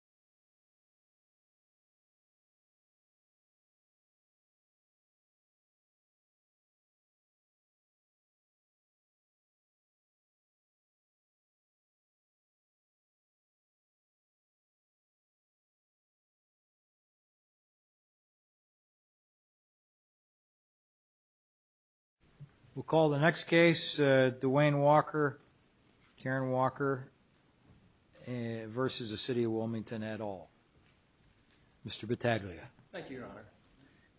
v. Cityof Wilmington at all. Mr. Battaglia. Thank you, Your Honor.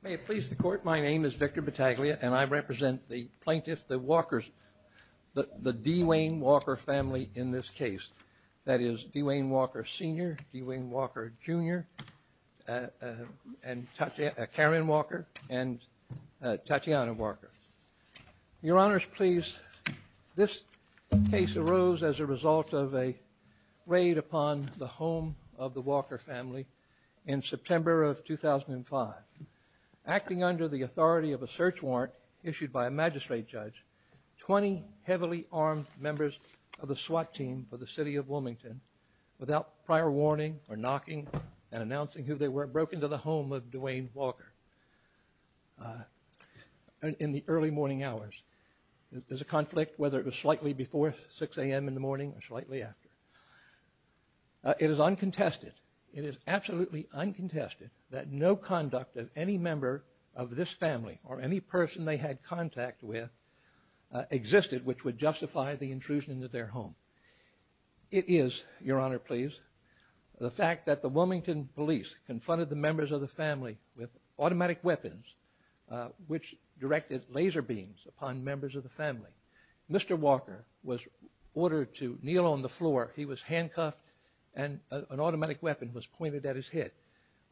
May it please the Court, my name is Victor Battaglia, and I represent the plaintiff, the Walkers, the D. Wayne Walker family in this case. That is, D. Wayne Walker Sr., D. Wayne Walker Jr., and Tatiana Walker. Your Honors, please, this case arose as a result of a raid upon the home of the Walker family in September of 2005, acting under the authority of a search warrant issued by a magistrate judge, 20 heavily armed members of the SWAT team for the City of Wilmington without prior warning or knocking and announcing who they were broke into the home of D. Wayne Walker in the early morning hours. There's a conflict whether it was slightly before 6 a.m. in the morning or slightly after. It is uncontested, it is absolutely uncontested that no conduct of any member of this family or any person they had contact with existed which would justify the intrusion into their home. It is, Your Honor, please, the fact that the Wilmington police confronted the members of the family with automatic weapons which directed laser beams upon members of the family. Mr. Walker was ordered to kneel on the floor. He was handcuffed and an automatic weapon was pointed at his head.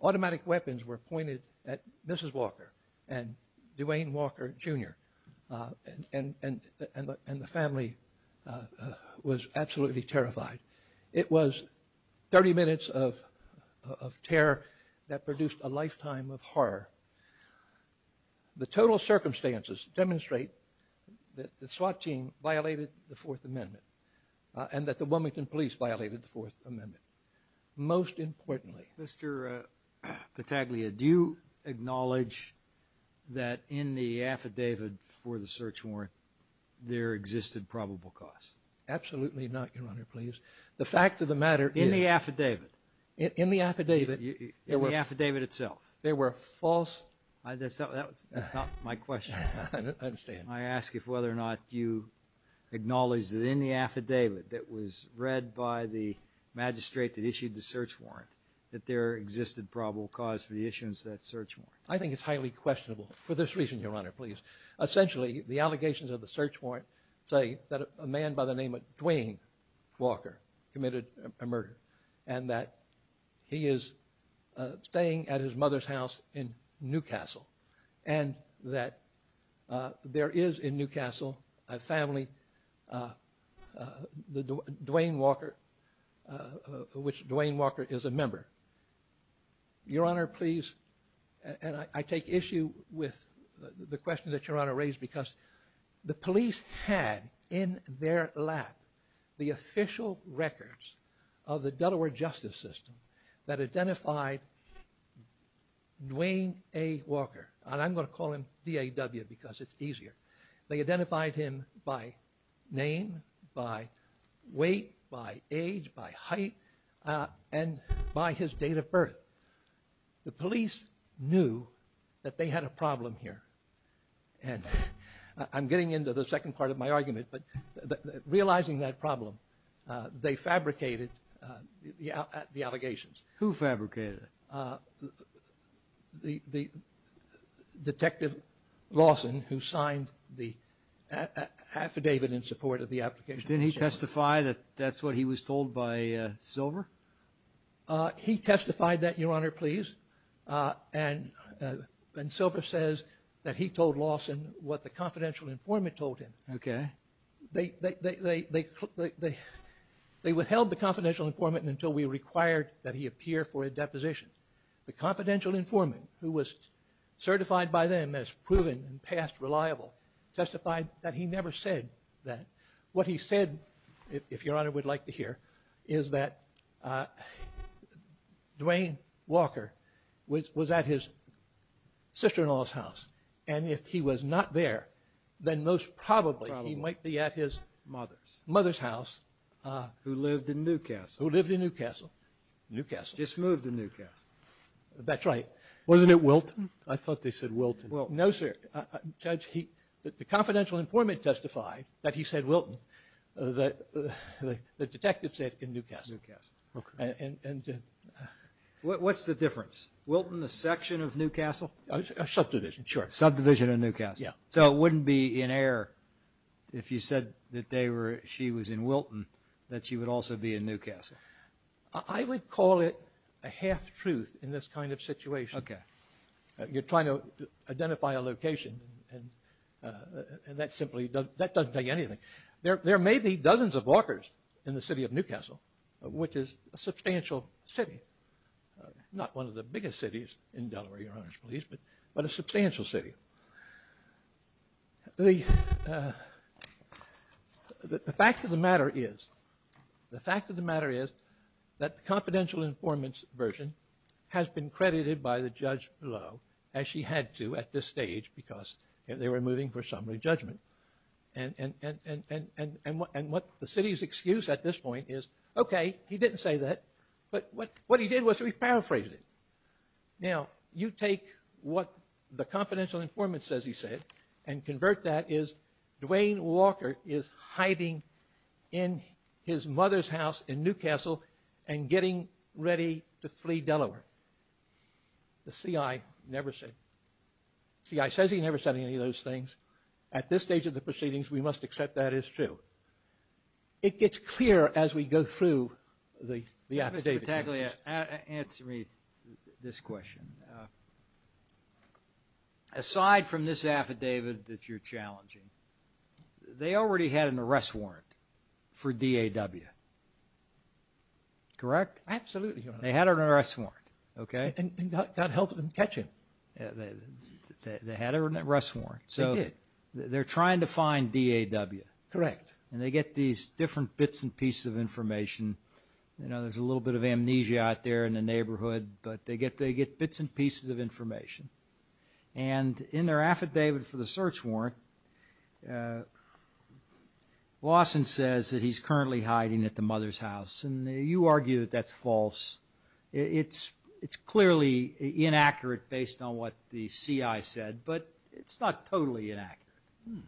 Automatic weapons were pointed at Mrs. Walker and D. Wayne Walker Jr. and the family was absolutely terrified. It was 30 minutes of terror that produced a lifetime of horror. The total circumstances demonstrate that the SWAT team violated the Fourth Amendment and that the Wilmington police violated the Fourth Amendment. Most importantly... Mr. Pataglia, do you acknowledge that in the fact of the matter... In the affidavit. In the affidavit. In the affidavit itself. There were false... That's not my question. I ask if whether or not you acknowledge that in the affidavit that was read by the magistrate that issued the search warrant that there existed probable cause for the issuance of that search warrant. I think it's highly questionable for this reason, Your Honor, please. Essentially, the allegations of the search warrant say that a man by the name of Dwayne Walker committed a murder and that he is staying at his mother's house in Newcastle and that there is in Newcastle a family, Dwayne Walker, which Dwayne Walker is a member. Your Honor, please, and I take issue with the question that Your Honor raised because the police had in their lap the official records of the Delaware justice system that identified Dwayne A. Walker, and I'm going to call him DAW because it's easier. They identified him by name, by weight, by age, by height, and by his date of birth. The police knew that they had a problem here, and I'm getting into the second part of my argument, but realizing that problem, they fabricated the allegations. Who fabricated it? The Detective Lawson who signed the affidavit in support of the application. Didn't he testify that that's what he was told by Silver? He testified that, Your Honor, please, and Silver says that he told Lawson what the confidential informant told him. Okay. They withheld the confidential informant until we required that he appear for a deposition. The confidential informant, who was certified by them as proven and past reliable, testified that he never said that. What he said, if Your Honor would like to hear, is that Dwayne Walker was at his sister-in-law's house, and if he was not there, then most probably he might be at his mother's house. Who lived in Newcastle. Who lived in Newcastle. Newcastle. Just moved to Newcastle. That's right. Wasn't it Wilton? I thought they said Wilton. No, sir. Judge, the confidential informant testified that he said Wilton. The detective said in Newcastle. Newcastle. Okay. And what's the difference? Wilton, the section of Newcastle? A subdivision. Sure. Subdivision of Newcastle. Yeah. So it wouldn't be in error if you said that they were, she was in Wilton, that she would also be in Newcastle. I would call it a half-truth in this kind of situation. Okay. You're trying to identify a location and that simply doesn't, that doesn't tell you anything. There may be dozens of Walkers in the city of Newcastle, which is a substantial city. Not one of the biggest cities in Delaware, Your Honor's pleased, but a substantial city. The fact of the matter is, the fact of the matter is that the confidential informant's version has been credited by the judge below, as she had to at this stage, because they were moving for summary judgment. And what the city's excuse at this point is, okay, he didn't say that, but what he did was to paraphrase it. Now, you take what the confidential informant says he said and convert that as Dwayne Walker is hiding in his mother's in Newcastle and getting ready to flee Delaware. The CI never said, CI says he never said any of those things. At this stage of the proceedings, we must accept that as true. It gets clearer as we go through the affidavit. Answer me this question. Aside from this affidavit that you're Correct? Absolutely, Your Honor. They had an arrest warrant, okay? And that helped them catch him. They had an arrest warrant. They did. So they're trying to find DAW. Correct. And they get these different bits and pieces of information. You know, there's a little bit of amnesia out there in the neighborhood, but they get bits and pieces of information. And in their affidavit for the and you argue that that's false. It's clearly inaccurate based on what the CI said, but it's not totally inaccurate,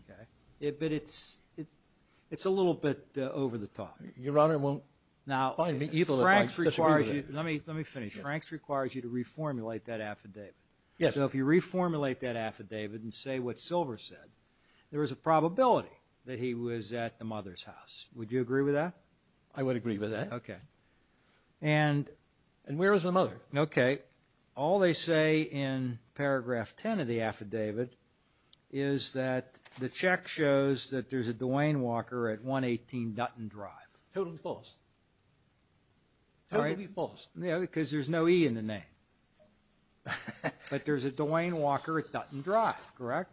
okay? But it's a little bit over the top. Your Honor, it won't find me evil. Let me finish. Franks requires you to reformulate that affidavit. Yes. So if you reformulate that affidavit and say what Silver said, there was a probability that he was at the Okay. And where was the mother? Okay. All they say in paragraph 10 of the affidavit is that the check shows that there's a Dwayne Walker at 118 Dutton Drive. Totally false. Totally false. Yeah, because there's no E in the name. But there's a Dwayne Walker at Dutton Drive, correct?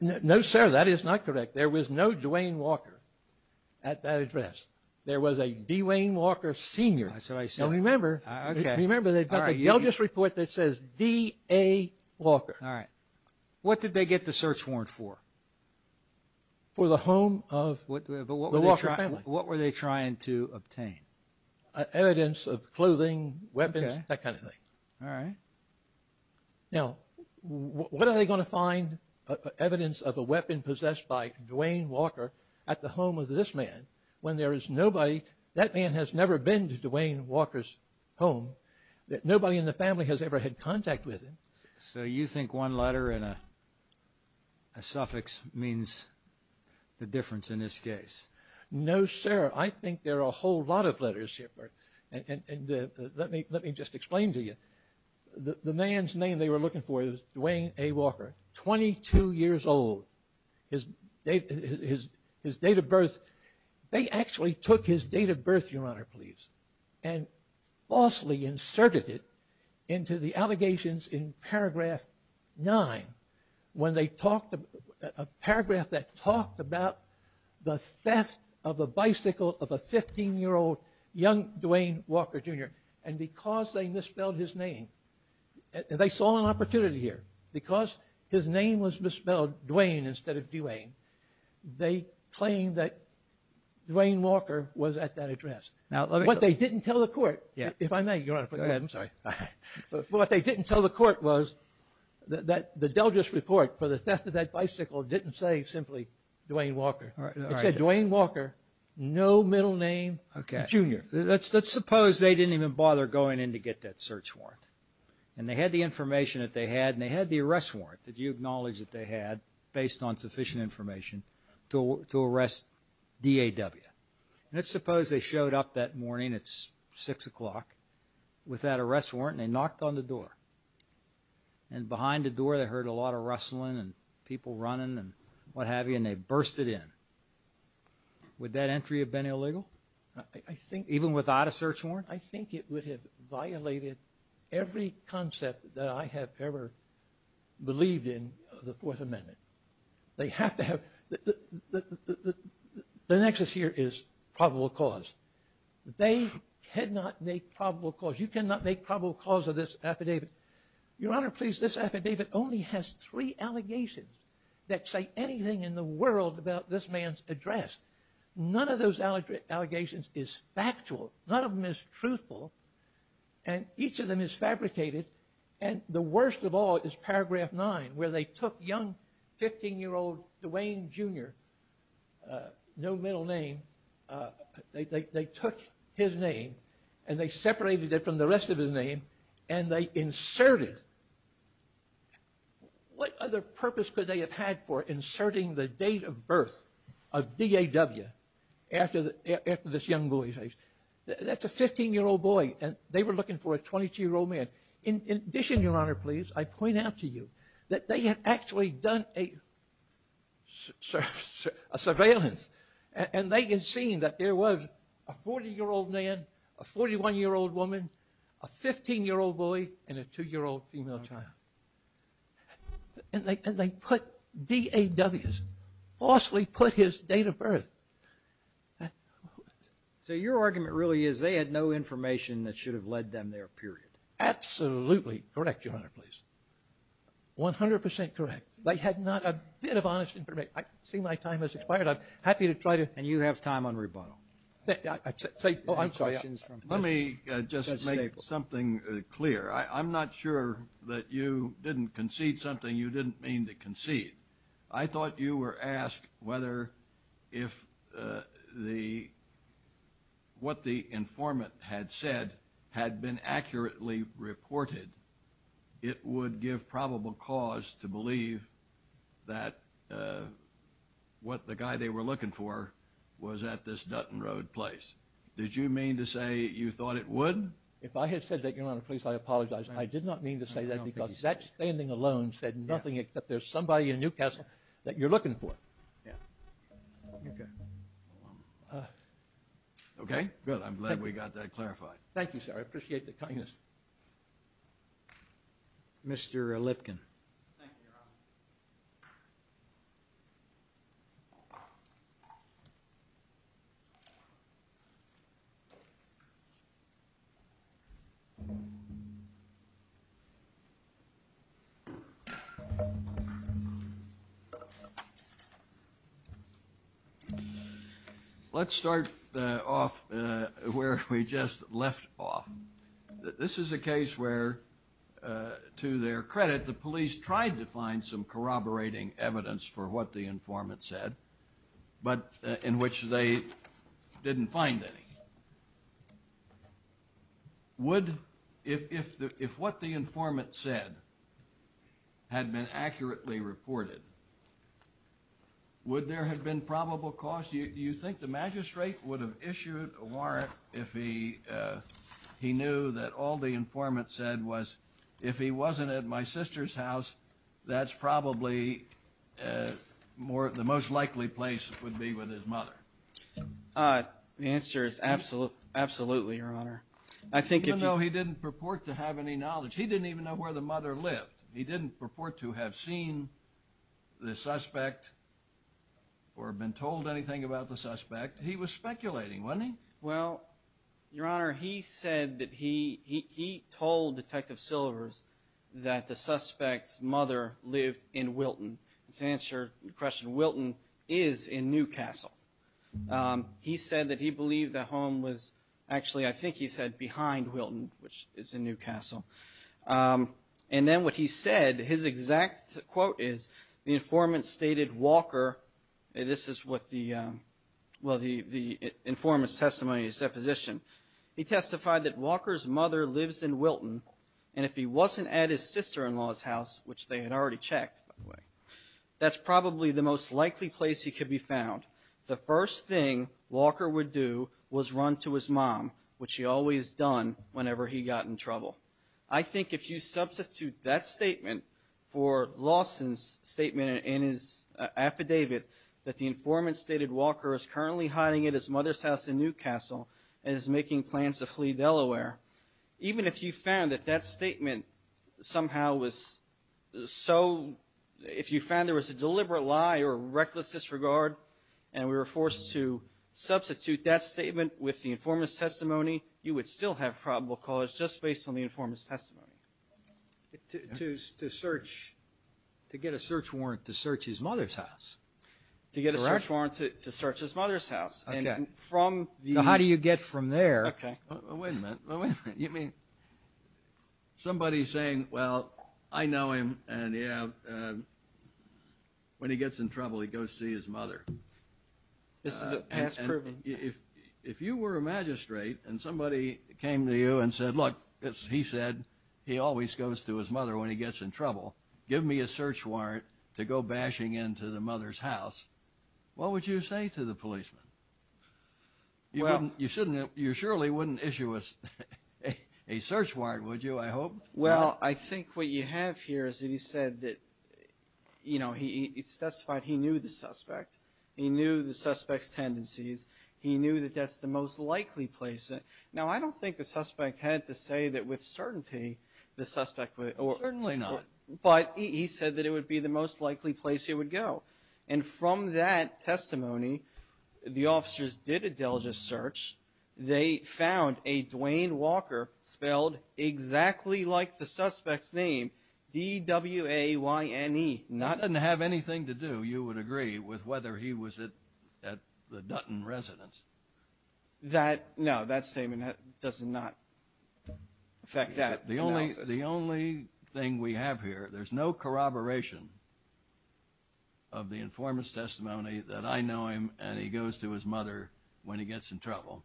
No, sir, that is not correct. There was no Dwayne Walker at that address. There was a Dwayne Walker senior. That's what I said. Remember, they've got the Delgis report that says D.A. Walker. All right. What did they get the search warrant for? For the home of the Walker family. What were they trying to obtain? Evidence of clothing, weapons, that kind of thing. All right. Now, what are they going to find? Evidence of a weapon possessed by Dwayne Walker at the home of this man when there is nobody, that man has never been to Dwayne Walker's home, that nobody in the family has ever had contact with him. So you think one letter in a suffix means the difference in this case? No, sir. I think there are a whole lot of things I can't explain to you. The man's name they were looking for was Dwayne A. Walker, 22 years old. His date of birth, they actually took his date of birth, your honor, please, and falsely inserted it into the allegations in paragraph nine when they talked, a paragraph that talked about the theft of a bicycle of a 15-year-old young Dwayne Walker, Jr. And because they misspelled his name, and they saw an opportunity here, because his name was misspelled Dwayne instead of Dwayne, they claimed that Dwayne Walker was at that address. Now, let me... What they didn't tell the court, if I may, your honor, I'm sorry, but what they didn't tell the court was that the Delgis report for the theft of that bicycle didn't say simply Dwayne Walker. It said Dwayne Walker, no middle name, Jr. Let's suppose they didn't even bother going in to get that search warrant, and they had the information that they had, and they had the arrest warrant that you acknowledge that they had based on sufficient information to arrest DAW. And let's suppose they showed up that morning, it's six o'clock, with that arrest warrant, and they knocked on the door. And behind the door they heard a lot of rustling, and people running, and what have you, and they bursted in. Would that entry have been illegal? I think... Even without a search warrant? I think it would have violated every concept that I have ever believed in the Fourth Amendment. They have to have... The nexus here is probable cause. They cannot make probable cause. You cannot make probable cause of this affidavit. Your Honor, please, this affidavit only has three allegations that say anything in the world about this man's address. None of those allegations is factual. None of them is truthful, and each of them is fabricated, and the worst of all is Paragraph 9, where they took young 15-year-old Dwayne Jr., no middle name, they took his name, and they separated it from the and they inserted... What other purpose could they have had for inserting the date of birth of DAW after this young boy's age? That's a 15-year-old boy, and they were looking for a 22-year-old man. In addition, Your Honor, please, I point out to you that they had actually done a surveillance, and they had seen that there was a 40-year-old man, a 41-year-old woman, a 15-year-old boy, and a 2-year-old female child, and they put DAWs, falsely put his date of birth. So your argument really is they had no information that should have led them there, period? Absolutely correct, Your Honor, please. 100% correct. They had not a bit of honest information. I see my time has expired. I'm happy to try to... And you have time on rebuttal. Let me just make something clear. I'm not sure that you didn't concede something you didn't mean to concede. I thought you were asked whether if what the informant had said had been accurately reported, it would give probable cause to believe that what the guy they were looking for was at this Dutton Road place. Did you mean to say you thought it would? If I had said that, Your Honor, please, I apologize. I did not mean to say that because that standing alone said nothing except there's somebody in Newcastle that you're looking for. Okay, good. I'm glad we got that clarified. Thank you, sir. I appreciate the kindness. Thank you, Your Honor. Mr. Lipkin. Thank you, Your Honor. Let's start off where we just left off. This is a case where, to their credit, the police tried to find some corroborating evidence for what the informant said. In which they didn't find any. If what the informant said had been accurately reported, would there have been probable cause? Do you think the magistrate would have issued a warrant if he knew that all the informant said was, if he wasn't at my sister's house, that's probably the most likely place it would be with his mother? The answer is absolutely, Your Honor. Even though he didn't purport to have any knowledge. He didn't even know where the mother lived. He didn't purport to have seen the suspect or been told anything about the suspect. He was speculating, wasn't he? Well, Your Honor, he said that he told Detective Silvers that the suspect's mother lived in Wilton. To answer your question, Wilton is in Newcastle. He said that he believed the home was, actually I think he said behind Wilton, which is in Newcastle. And then what he said, his exact quote is, the informant stated Walker, this is what the, well the informant's testimony, his supposition. He testified that Walker's mother lives in Wilton, and if he wasn't at his sister-in-law's house, which they had already checked, by the way, that's probably the most likely place he could be found. The first thing Walker would do was run to his mom, which he always done whenever he got in trouble. I think if you substitute that statement for Lawson's statement in his affidavit that the informant stated Walker is currently hiding at his mother's house in Newcastle and is making plans to flee Delaware, even if you found that that statement somehow was so, if you found there was a deliberate lie or reckless disregard and we were forced to substitute that statement with the informant's testimony, you would still have probable cause just based on the informant's testimony. To search, to get a search warrant to search his mother's house. Correct. To get a search warrant to search his mother's house. Okay. And from the- So how do you get from there- Okay. Wait a minute, wait a minute, you mean somebody saying, well, I know him, and yeah, when he gets in trouble, he goes to see his mother. This is past proven. If you were a magistrate and somebody came to you and said, look, he said he always goes to his mother when he gets in trouble, give me a search warrant to go bashing into the mother's house, what would you say to the policeman? You surely wouldn't issue us a search warrant, would you, I hope? Well, I think what you have here is that he said that, you know, he specified he knew the suspect. He knew the suspect's tendencies. He knew that that's the most likely place. Now, I don't think the suspect had to say that with certainty the suspect would- Certainly not. But he said that it would be the most likely place he would go. And from that testimony, the officers did a diligent search. They found a Dwayne Walker spelled exactly like the suspect's name, D-W-A-Y-N-E, not- It doesn't have anything to do, you would agree, with whether he was at the Dutton residence. That, no, that statement does not affect that analysis. The only thing we have here, there's no corroboration of the informant's testimony that I know him and he goes to his mother when he gets in trouble.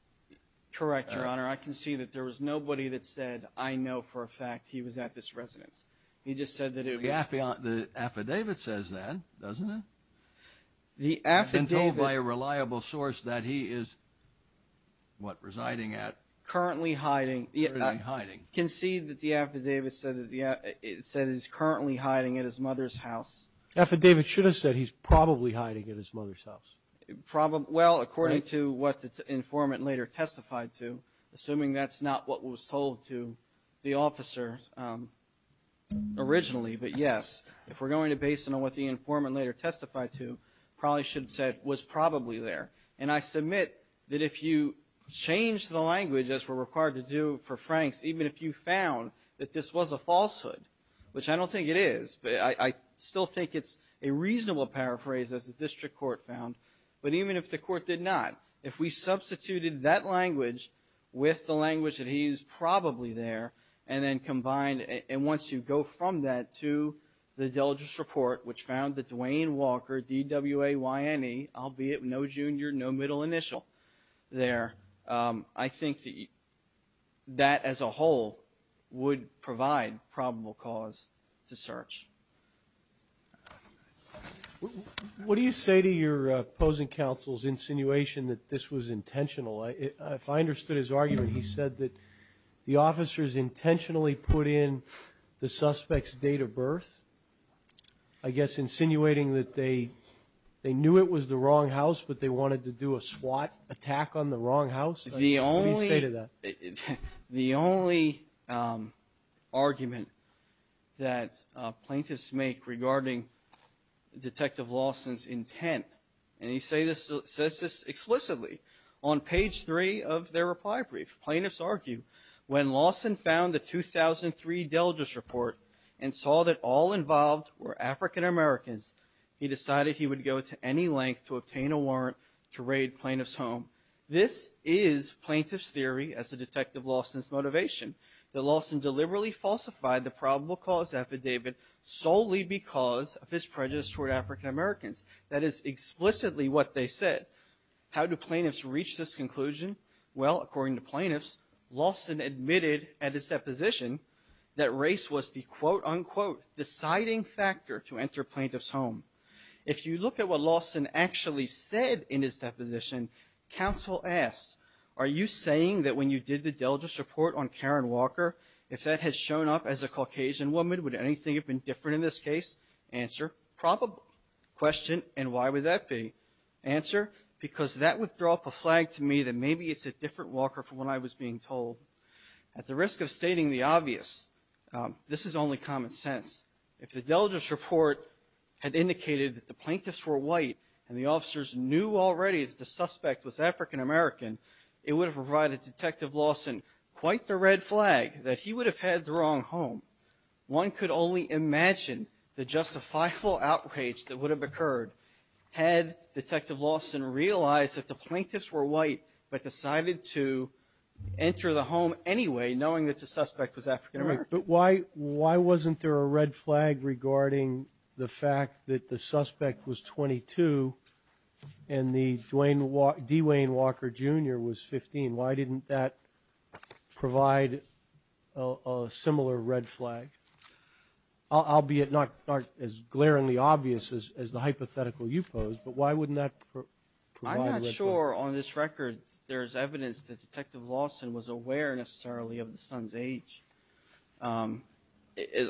Correct, Your Honor. I can see that there was nobody that said, I know for a fact he was at this residence. He just said that it was- The affidavit says that, doesn't it? The affidavit- I've been told by a reliable source that he is, what, residing at- Currently hiding. Currently hiding. Can see that the affidavit said that he's currently hiding at his mother's house. Affidavit should have said he's probably hiding at his mother's house. Well, according to what the informant later testified to, assuming that's not what was told to the officer originally, but yes, if we're going to base it on what the informant later testified to, probably should have said was probably there. And I submit that if you change the language, as we're required to do for Franks, if you found that this was a falsehood, which I don't think it is, but I still think it's a reasonable paraphrase, as the district court found. But even if the court did not, if we substituted that language with the language that he used probably there, and then combined, and once you go from that to the diligence report, which found that Dwayne Walker, D-W-A-Y-N-E, albeit no junior, no middle initial there, I think that as a whole would provide probable cause to search. What do you say to your opposing counsel's insinuation that this was intentional? If I understood his argument, he said that the officers intentionally put in the suspect's date of birth, I guess insinuating that they knew it was the wrong house, but they wanted to do a SWAT attack on the wrong house? The only argument that plaintiffs make regarding Detective Lawson's intent, and he says this explicitly on page three of their reply brief, plaintiffs argue, when Lawson found the 2003 diligence report and saw that all involved were African Americans, he decided he would go to any length to obtain a warrant to raid plaintiff's home. This is plaintiff's theory as to Detective Lawson's motivation, that Lawson deliberately falsified the probable cause affidavit solely because of his prejudice toward African Americans. That is explicitly what they said. How do plaintiffs reach this conclusion? Well, according to plaintiffs, Lawson admitted at his deposition that race was the, quote, unquote, deciding factor to enter plaintiff's home. If you look at what Lawson actually said in his deposition, counsel asked, are you saying that when you did the diligence report on Karen Walker, if that had shown up as a Caucasian woman, would anything have been different in this case? Answer, probable. Question, and why would that be? Answer, because that would throw up a flag to me that maybe it's a different Walker from what I was being told. At the risk of stating the obvious, this is only common sense. If the diligence report had indicated that the plaintiffs were white and the officers knew already that the suspect was African American, it would have provided Detective Lawson quite the red flag that he would have had the wrong home. One could only imagine the justifiable outrage that would have occurred had Detective Lawson realized that the plaintiffs were white but decided to enter the home anyway knowing that the suspect was African American. But why wasn't there a red flag regarding the fact that the suspect was 22 and the D. Wayne Walker Jr. was 15? Why didn't that provide a similar red flag? Albeit not as glaringly obvious as the hypothetical you posed, but why wouldn't that provide a red flag? I'm not sure on this record there's evidence that Detective Lawson was aware necessarily of the son's age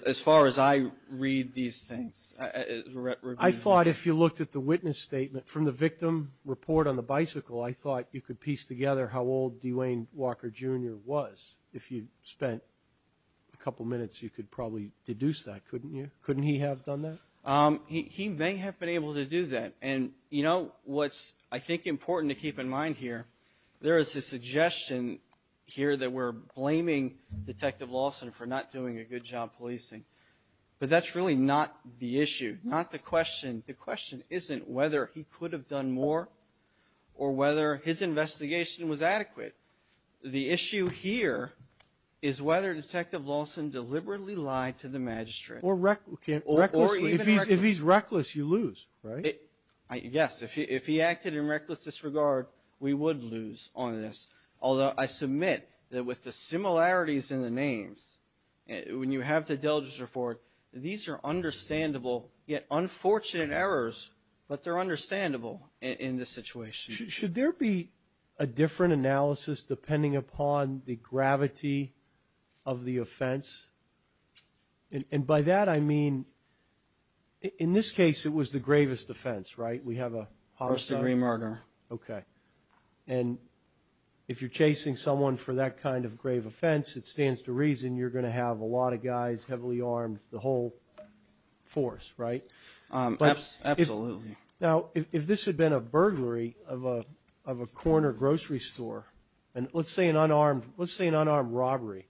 as far as I read these things. I thought if you looked at the witness statement from the victim report on the bicycle, I thought you could piece together how old D. Wayne Walker Jr. was. If you spent a couple minutes, you could probably deduce that, couldn't you? Couldn't he have done that? He may have been able to do that. What's, I think, important to keep in mind here, there is a suggestion here that we're blaming Detective Lawson for not doing a good job policing. But that's really not the issue, not the question. The question isn't whether he could have done more or whether his investigation was adequate. The issue here is whether Detective Lawson deliberately lied to the magistrate. Or recklessly. If he's reckless, you lose, right? Yes, if he acted in reckless disregard, we would lose on this. Although I submit that with the similarities in the names, when you have the diligence report, these are understandable yet unfortunate errors, but they're understandable in this situation. Should there be a different analysis depending upon the gravity of the offense? And by that, I mean, in this case, it was the gravest offense, right? We have a homicide. First degree murder. Okay. And if you're chasing someone for that kind of grave offense, it stands to reason you're going to have a lot of guys heavily armed, the whole force, right? Absolutely. Now, if this had been a burglary of a corner grocery store, and let's say an unarmed robbery,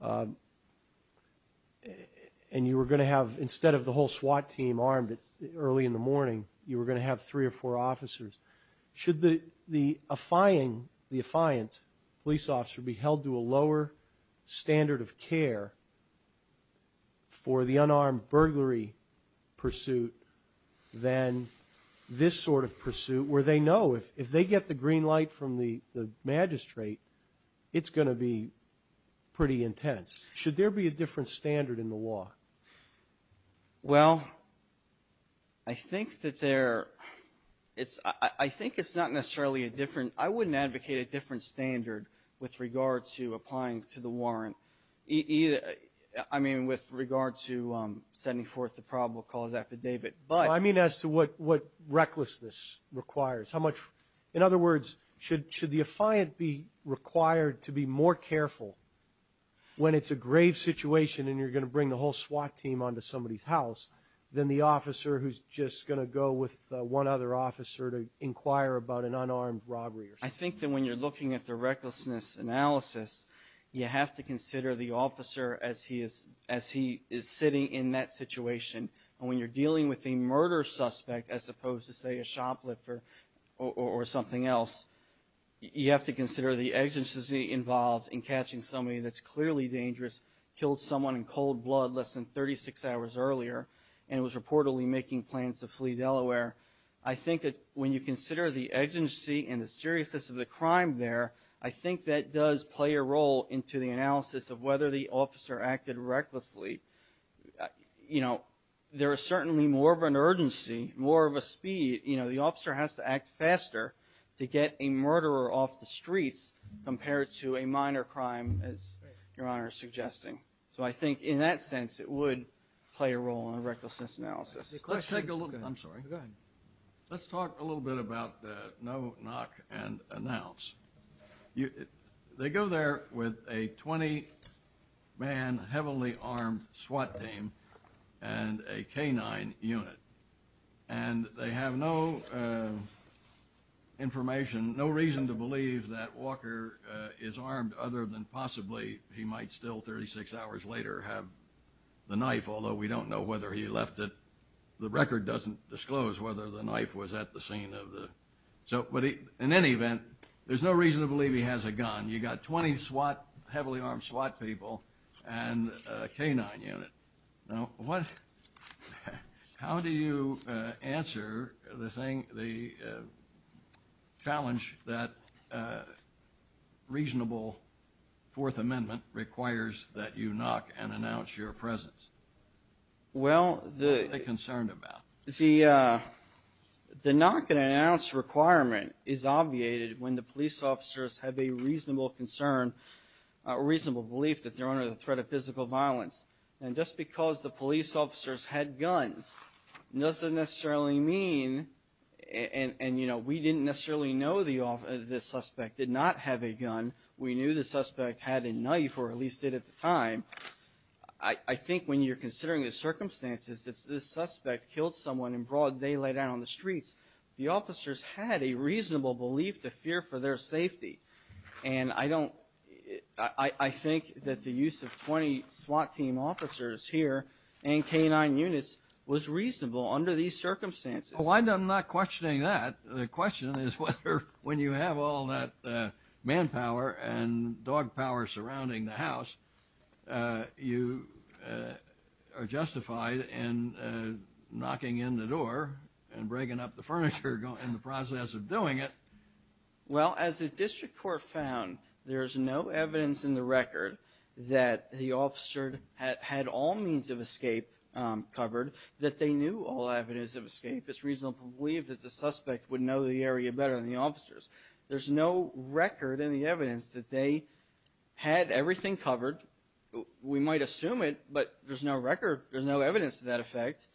and you were going to have, instead of the whole SWAT team armed early in the morning, you were going to have three or four officers. Should the affiant police officer be held to a lower standard of care for the unarmed burglary pursuit than this sort of pursuit, where they know if they get the green light from the magistrate, it's going to be pretty intense. Should there be a different standard in the law? Well, I think that there... I think it's not necessarily a different... I wouldn't advocate a different standard with regard to applying to the warrant. I mean, with regard to sending forth the probable cause affidavit, but... I mean, as to what recklessness requires. In other words, should the affiant be required to be more careful when it's a grave situation, and you're going to bring the whole SWAT team onto somebody's house, than the officer who's just going to go with one other officer to inquire about an unarmed robbery? I think that when you're looking at the recklessness analysis, you have to consider the officer as he is sitting in that situation. And when you're dealing with a murder suspect, as opposed to, say, a shoplifter or something else, you have to consider the agency involved in catching somebody that's clearly dangerous, killed someone in cold blood less than 36 hours earlier, and was reportedly making plans to flee Delaware. I think that when you consider the agency and the seriousness of the crime there, I think that does play a role into the analysis of whether the officer acted recklessly. You know, there is certainly more of an urgency, more of a speed, you know, the officer has to act faster to get a murderer off the streets compared to a minor crime, as Your Honor is suggesting. So I think in that sense, it would play a role in a recklessness analysis. Let's take a look. I'm sorry. Go ahead. Let's talk a little bit about the no knock and announce. They go there with a 20-man heavily armed SWAT team and a K-9 unit. And they have no information, no reason to believe that Walker is armed other than possibly he might still 36 hours later have the knife, although we don't know whether he left it. The record doesn't disclose whether the knife was at the scene of the – so, but in any event, there's no reason to believe he has a gun. You got 20 SWAT, heavily armed SWAT people and a K-9 unit. Now, what – how do you answer the thing – the challenge that reasonable Fourth Amendment requires that you knock and announce your presence? What are they concerned about? Well, the knock and announce requirement is obviated when the police officers have a reasonable concern, reasonable belief that they're under the threat of physical violence. And just because the police officers had guns doesn't necessarily mean – and, you know, we didn't necessarily know the suspect did not have a gun. We knew the suspect had a knife or at least did at the time. I think when you're considering the circumstances that this suspect killed someone in broad daylight out on the streets, the officers had a reasonable belief to fear for their safety. And I don't – I think that the use of 20 SWAT team officers here and K-9 units was reasonable under these circumstances. Well, I'm not questioning that. The question is whether when you have all that manpower and dog power surrounding the house, you are justified in knocking in the door and breaking up the furniture in the process of doing it. Well, as the district court found, there's no evidence in the record that the officer had all means of escape covered, that they knew all avenues of escape. It's reasonable to believe that the suspect would know the area better than the officers. There's no record in the evidence that they had everything covered. We might assume it, but there's no record – there's no evidence to that effect.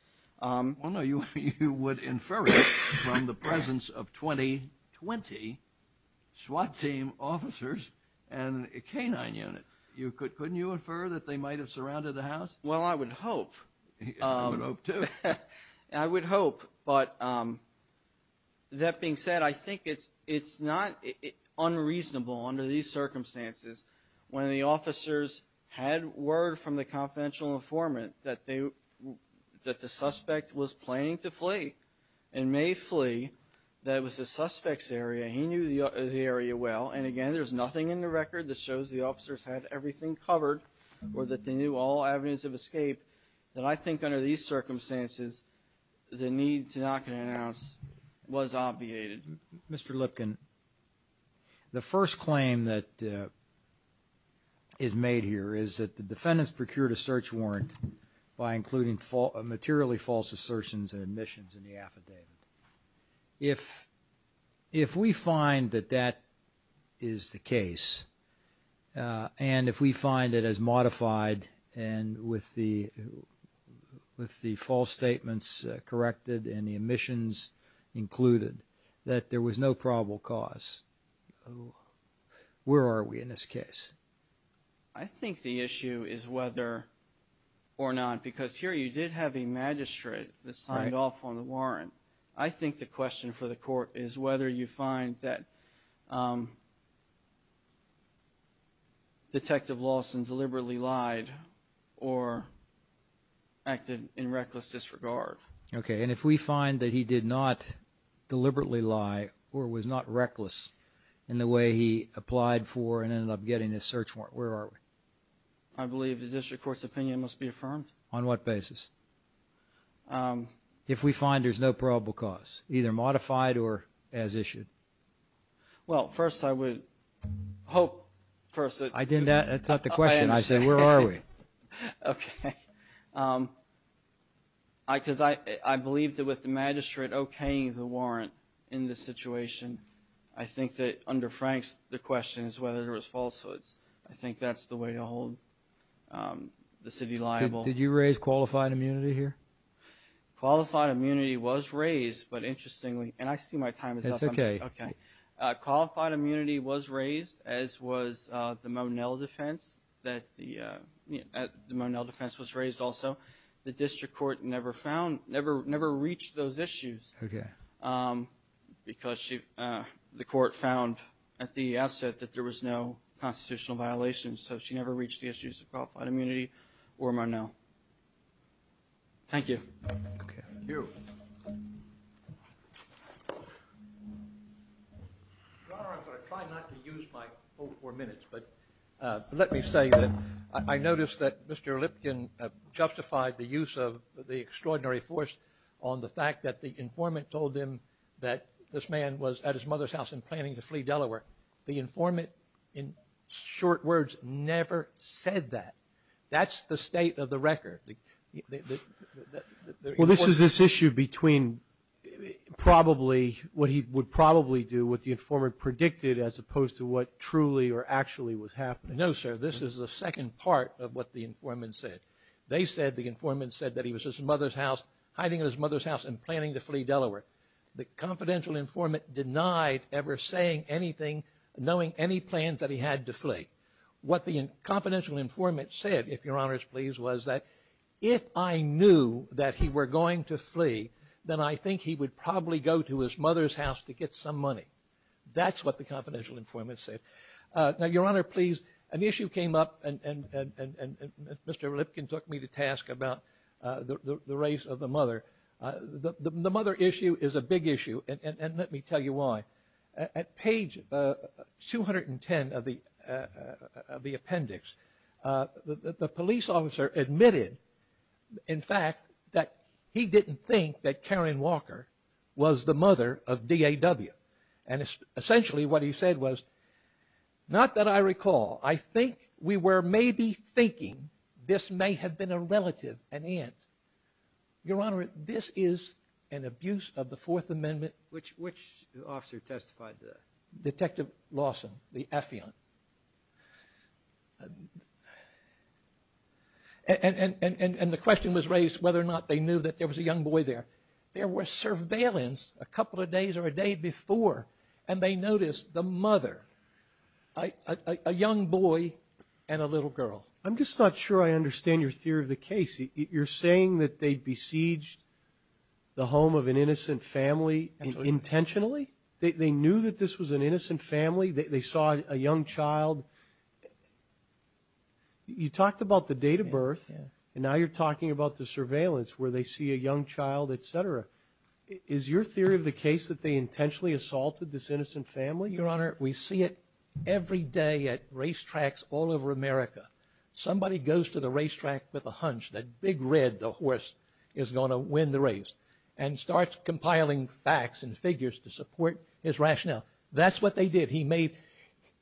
Well, no, you would infer it from the presence of 20 – 20 SWAT team officers and a K-9 unit. You could – couldn't you infer that they might have surrounded the house? Well, I would hope. I would hope too. I would hope, but that being said, I think it's not unreasonable under these circumstances when the officers had word from the confidential informant that they – that the suspect was planning to flee and may flee, that it was the suspect's area. He knew the area well. And again, there's nothing in the record that shows the officers had everything covered or that they knew all avenues of escape that I think under these circumstances the need to knock an ounce was obviated. Mr. Lipkin, the first claim that is made here is that the defendants procured a search warrant by including materially false assertions of admissions in the affidavit. If we find that that is the case and if we find it as modified and with the false statements corrected and the admissions included, that there was no probable cause, where are we in this case? I think the issue is whether or not, because here you did have a magistrate that signed off on the warrant, I think the question for the court is whether you find that Detective Lawson deliberately lied or acted in reckless disregard. Okay. And if we find that he did not deliberately lie or was not reckless in the way he applied for and ended up getting this search warrant, where are we? I believe the district court's opinion must be affirmed. On what basis? If we find there's no probable cause, either modified or as issued. Well, first, I would hope first. I did that and thought the question, I said, where are we? Okay. Because I believe that with the magistrate okaying the warrant in this situation, I think that under Frank's, the question is whether there was falsehoods. I think that's the way to hold the city liable. Did you raise qualified immunity here? Qualified immunity was raised, but interestingly, and I see my time is up. It's okay. Okay. Qualified immunity was raised as was the Monell defense that the Monell defense was raised also. The district court never found, never reached those issues because the court found at the outset that there was no constitutional violations. So she never reached the issues of qualified immunity or Monell. Thank you. Thank you. Your Honor, I'm going to try not to use my whole four minutes, but let me say that I noticed that Mr. Lipkin justified the use of the extraordinary force on the fact that the informant told him that this man was at his mother's house and planning to flee Delaware. The informant, in short words, never said that. That's the state of the record. Well, this is this issue between probably what he would probably do with the informant predicted as opposed to what truly or actually was happening. No, sir. This is the second part of what the informant said. They said the informant said that he was at his mother's house, hiding in his mother's house and planning to flee Delaware. The confidential informant denied ever saying anything, knowing any plans that he had to flee. What the confidential informant said, if Your Honor is pleased, if I knew that he were going to flee, then I think he would probably go to his mother's house to get some money. That's what the confidential informant said. Now, Your Honor, please, an issue came up and Mr. Lipkin took me to task about the race of the mother. The mother issue is a big issue. And let me tell you why. At page 210 of the appendix, the police officer admitted, in fact, that he didn't think that Karen Walker was the mother of DAW. And essentially what he said was, not that I recall, I think we were maybe thinking this may have been a relative, an aunt. Your Honor, this is an abuse Which officer testified to that? Detective Lawson, the affiant. And the question was raised whether or not they knew that there was a young boy there. There were surveillance a couple of days or a day before. And they noticed the mother, a young boy and a little girl. I'm just not sure I understand your theory of the case. You're saying that they besieged the home of an innocent family intentionally. They knew that this was an innocent family. They saw a young child. You talked about the date of birth. And now you're talking about the surveillance where they see a young child, et cetera. Is your theory of the case that they intentionally assaulted this innocent family? Your Honor, we see it every day at racetracks all over America. Somebody goes to the racetrack with a hunch that big red, the horse is going to win the race and starts compiling facts and figures to support his rationale. That's what they did. He made,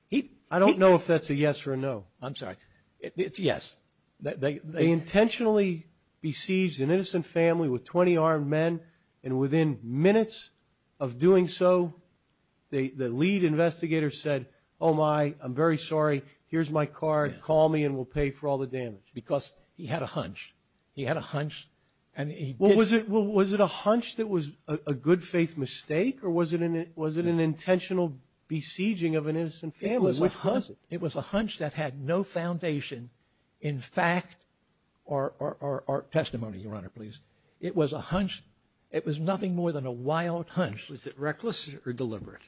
he. I don't know if that's a yes or no. I'm sorry. It's yes. They intentionally besieged an innocent family with 20 armed men. And within minutes of doing so, the lead investigator said, oh my, I'm very sorry. Here's my card. Call me and we'll pay for all the damage. Because he had a hunch. He had a hunch. And he was it. Well, was it a hunch that was a good faith mistake? Or was it an was it an intentional besieging of an innocent family? It was a hunch that had no foundation. In fact, our testimony, Your Honor, please. It was a hunch. It was nothing more than a wild hunch. Was it reckless or deliberate?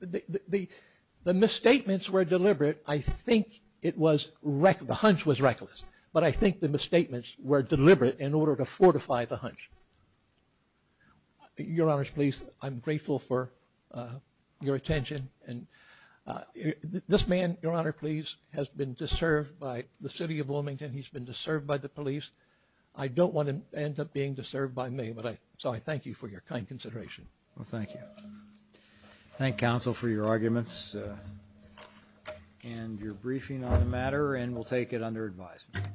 The misstatements were deliberate. I think it was reckless. The hunch was reckless. But I think the misstatements were deliberate in order to fortify the hunch. Your Honors, please. I'm grateful for your attention. And this man, Your Honor, please, has been disturbed by the city of Wilmington. He's been disturbed by the police. I don't want to end up being disturbed by me. But I so I thank you for your kind consideration. Well, thank you. Thank counsel for your arguments and your briefing on the matter. And we'll take it under advisement.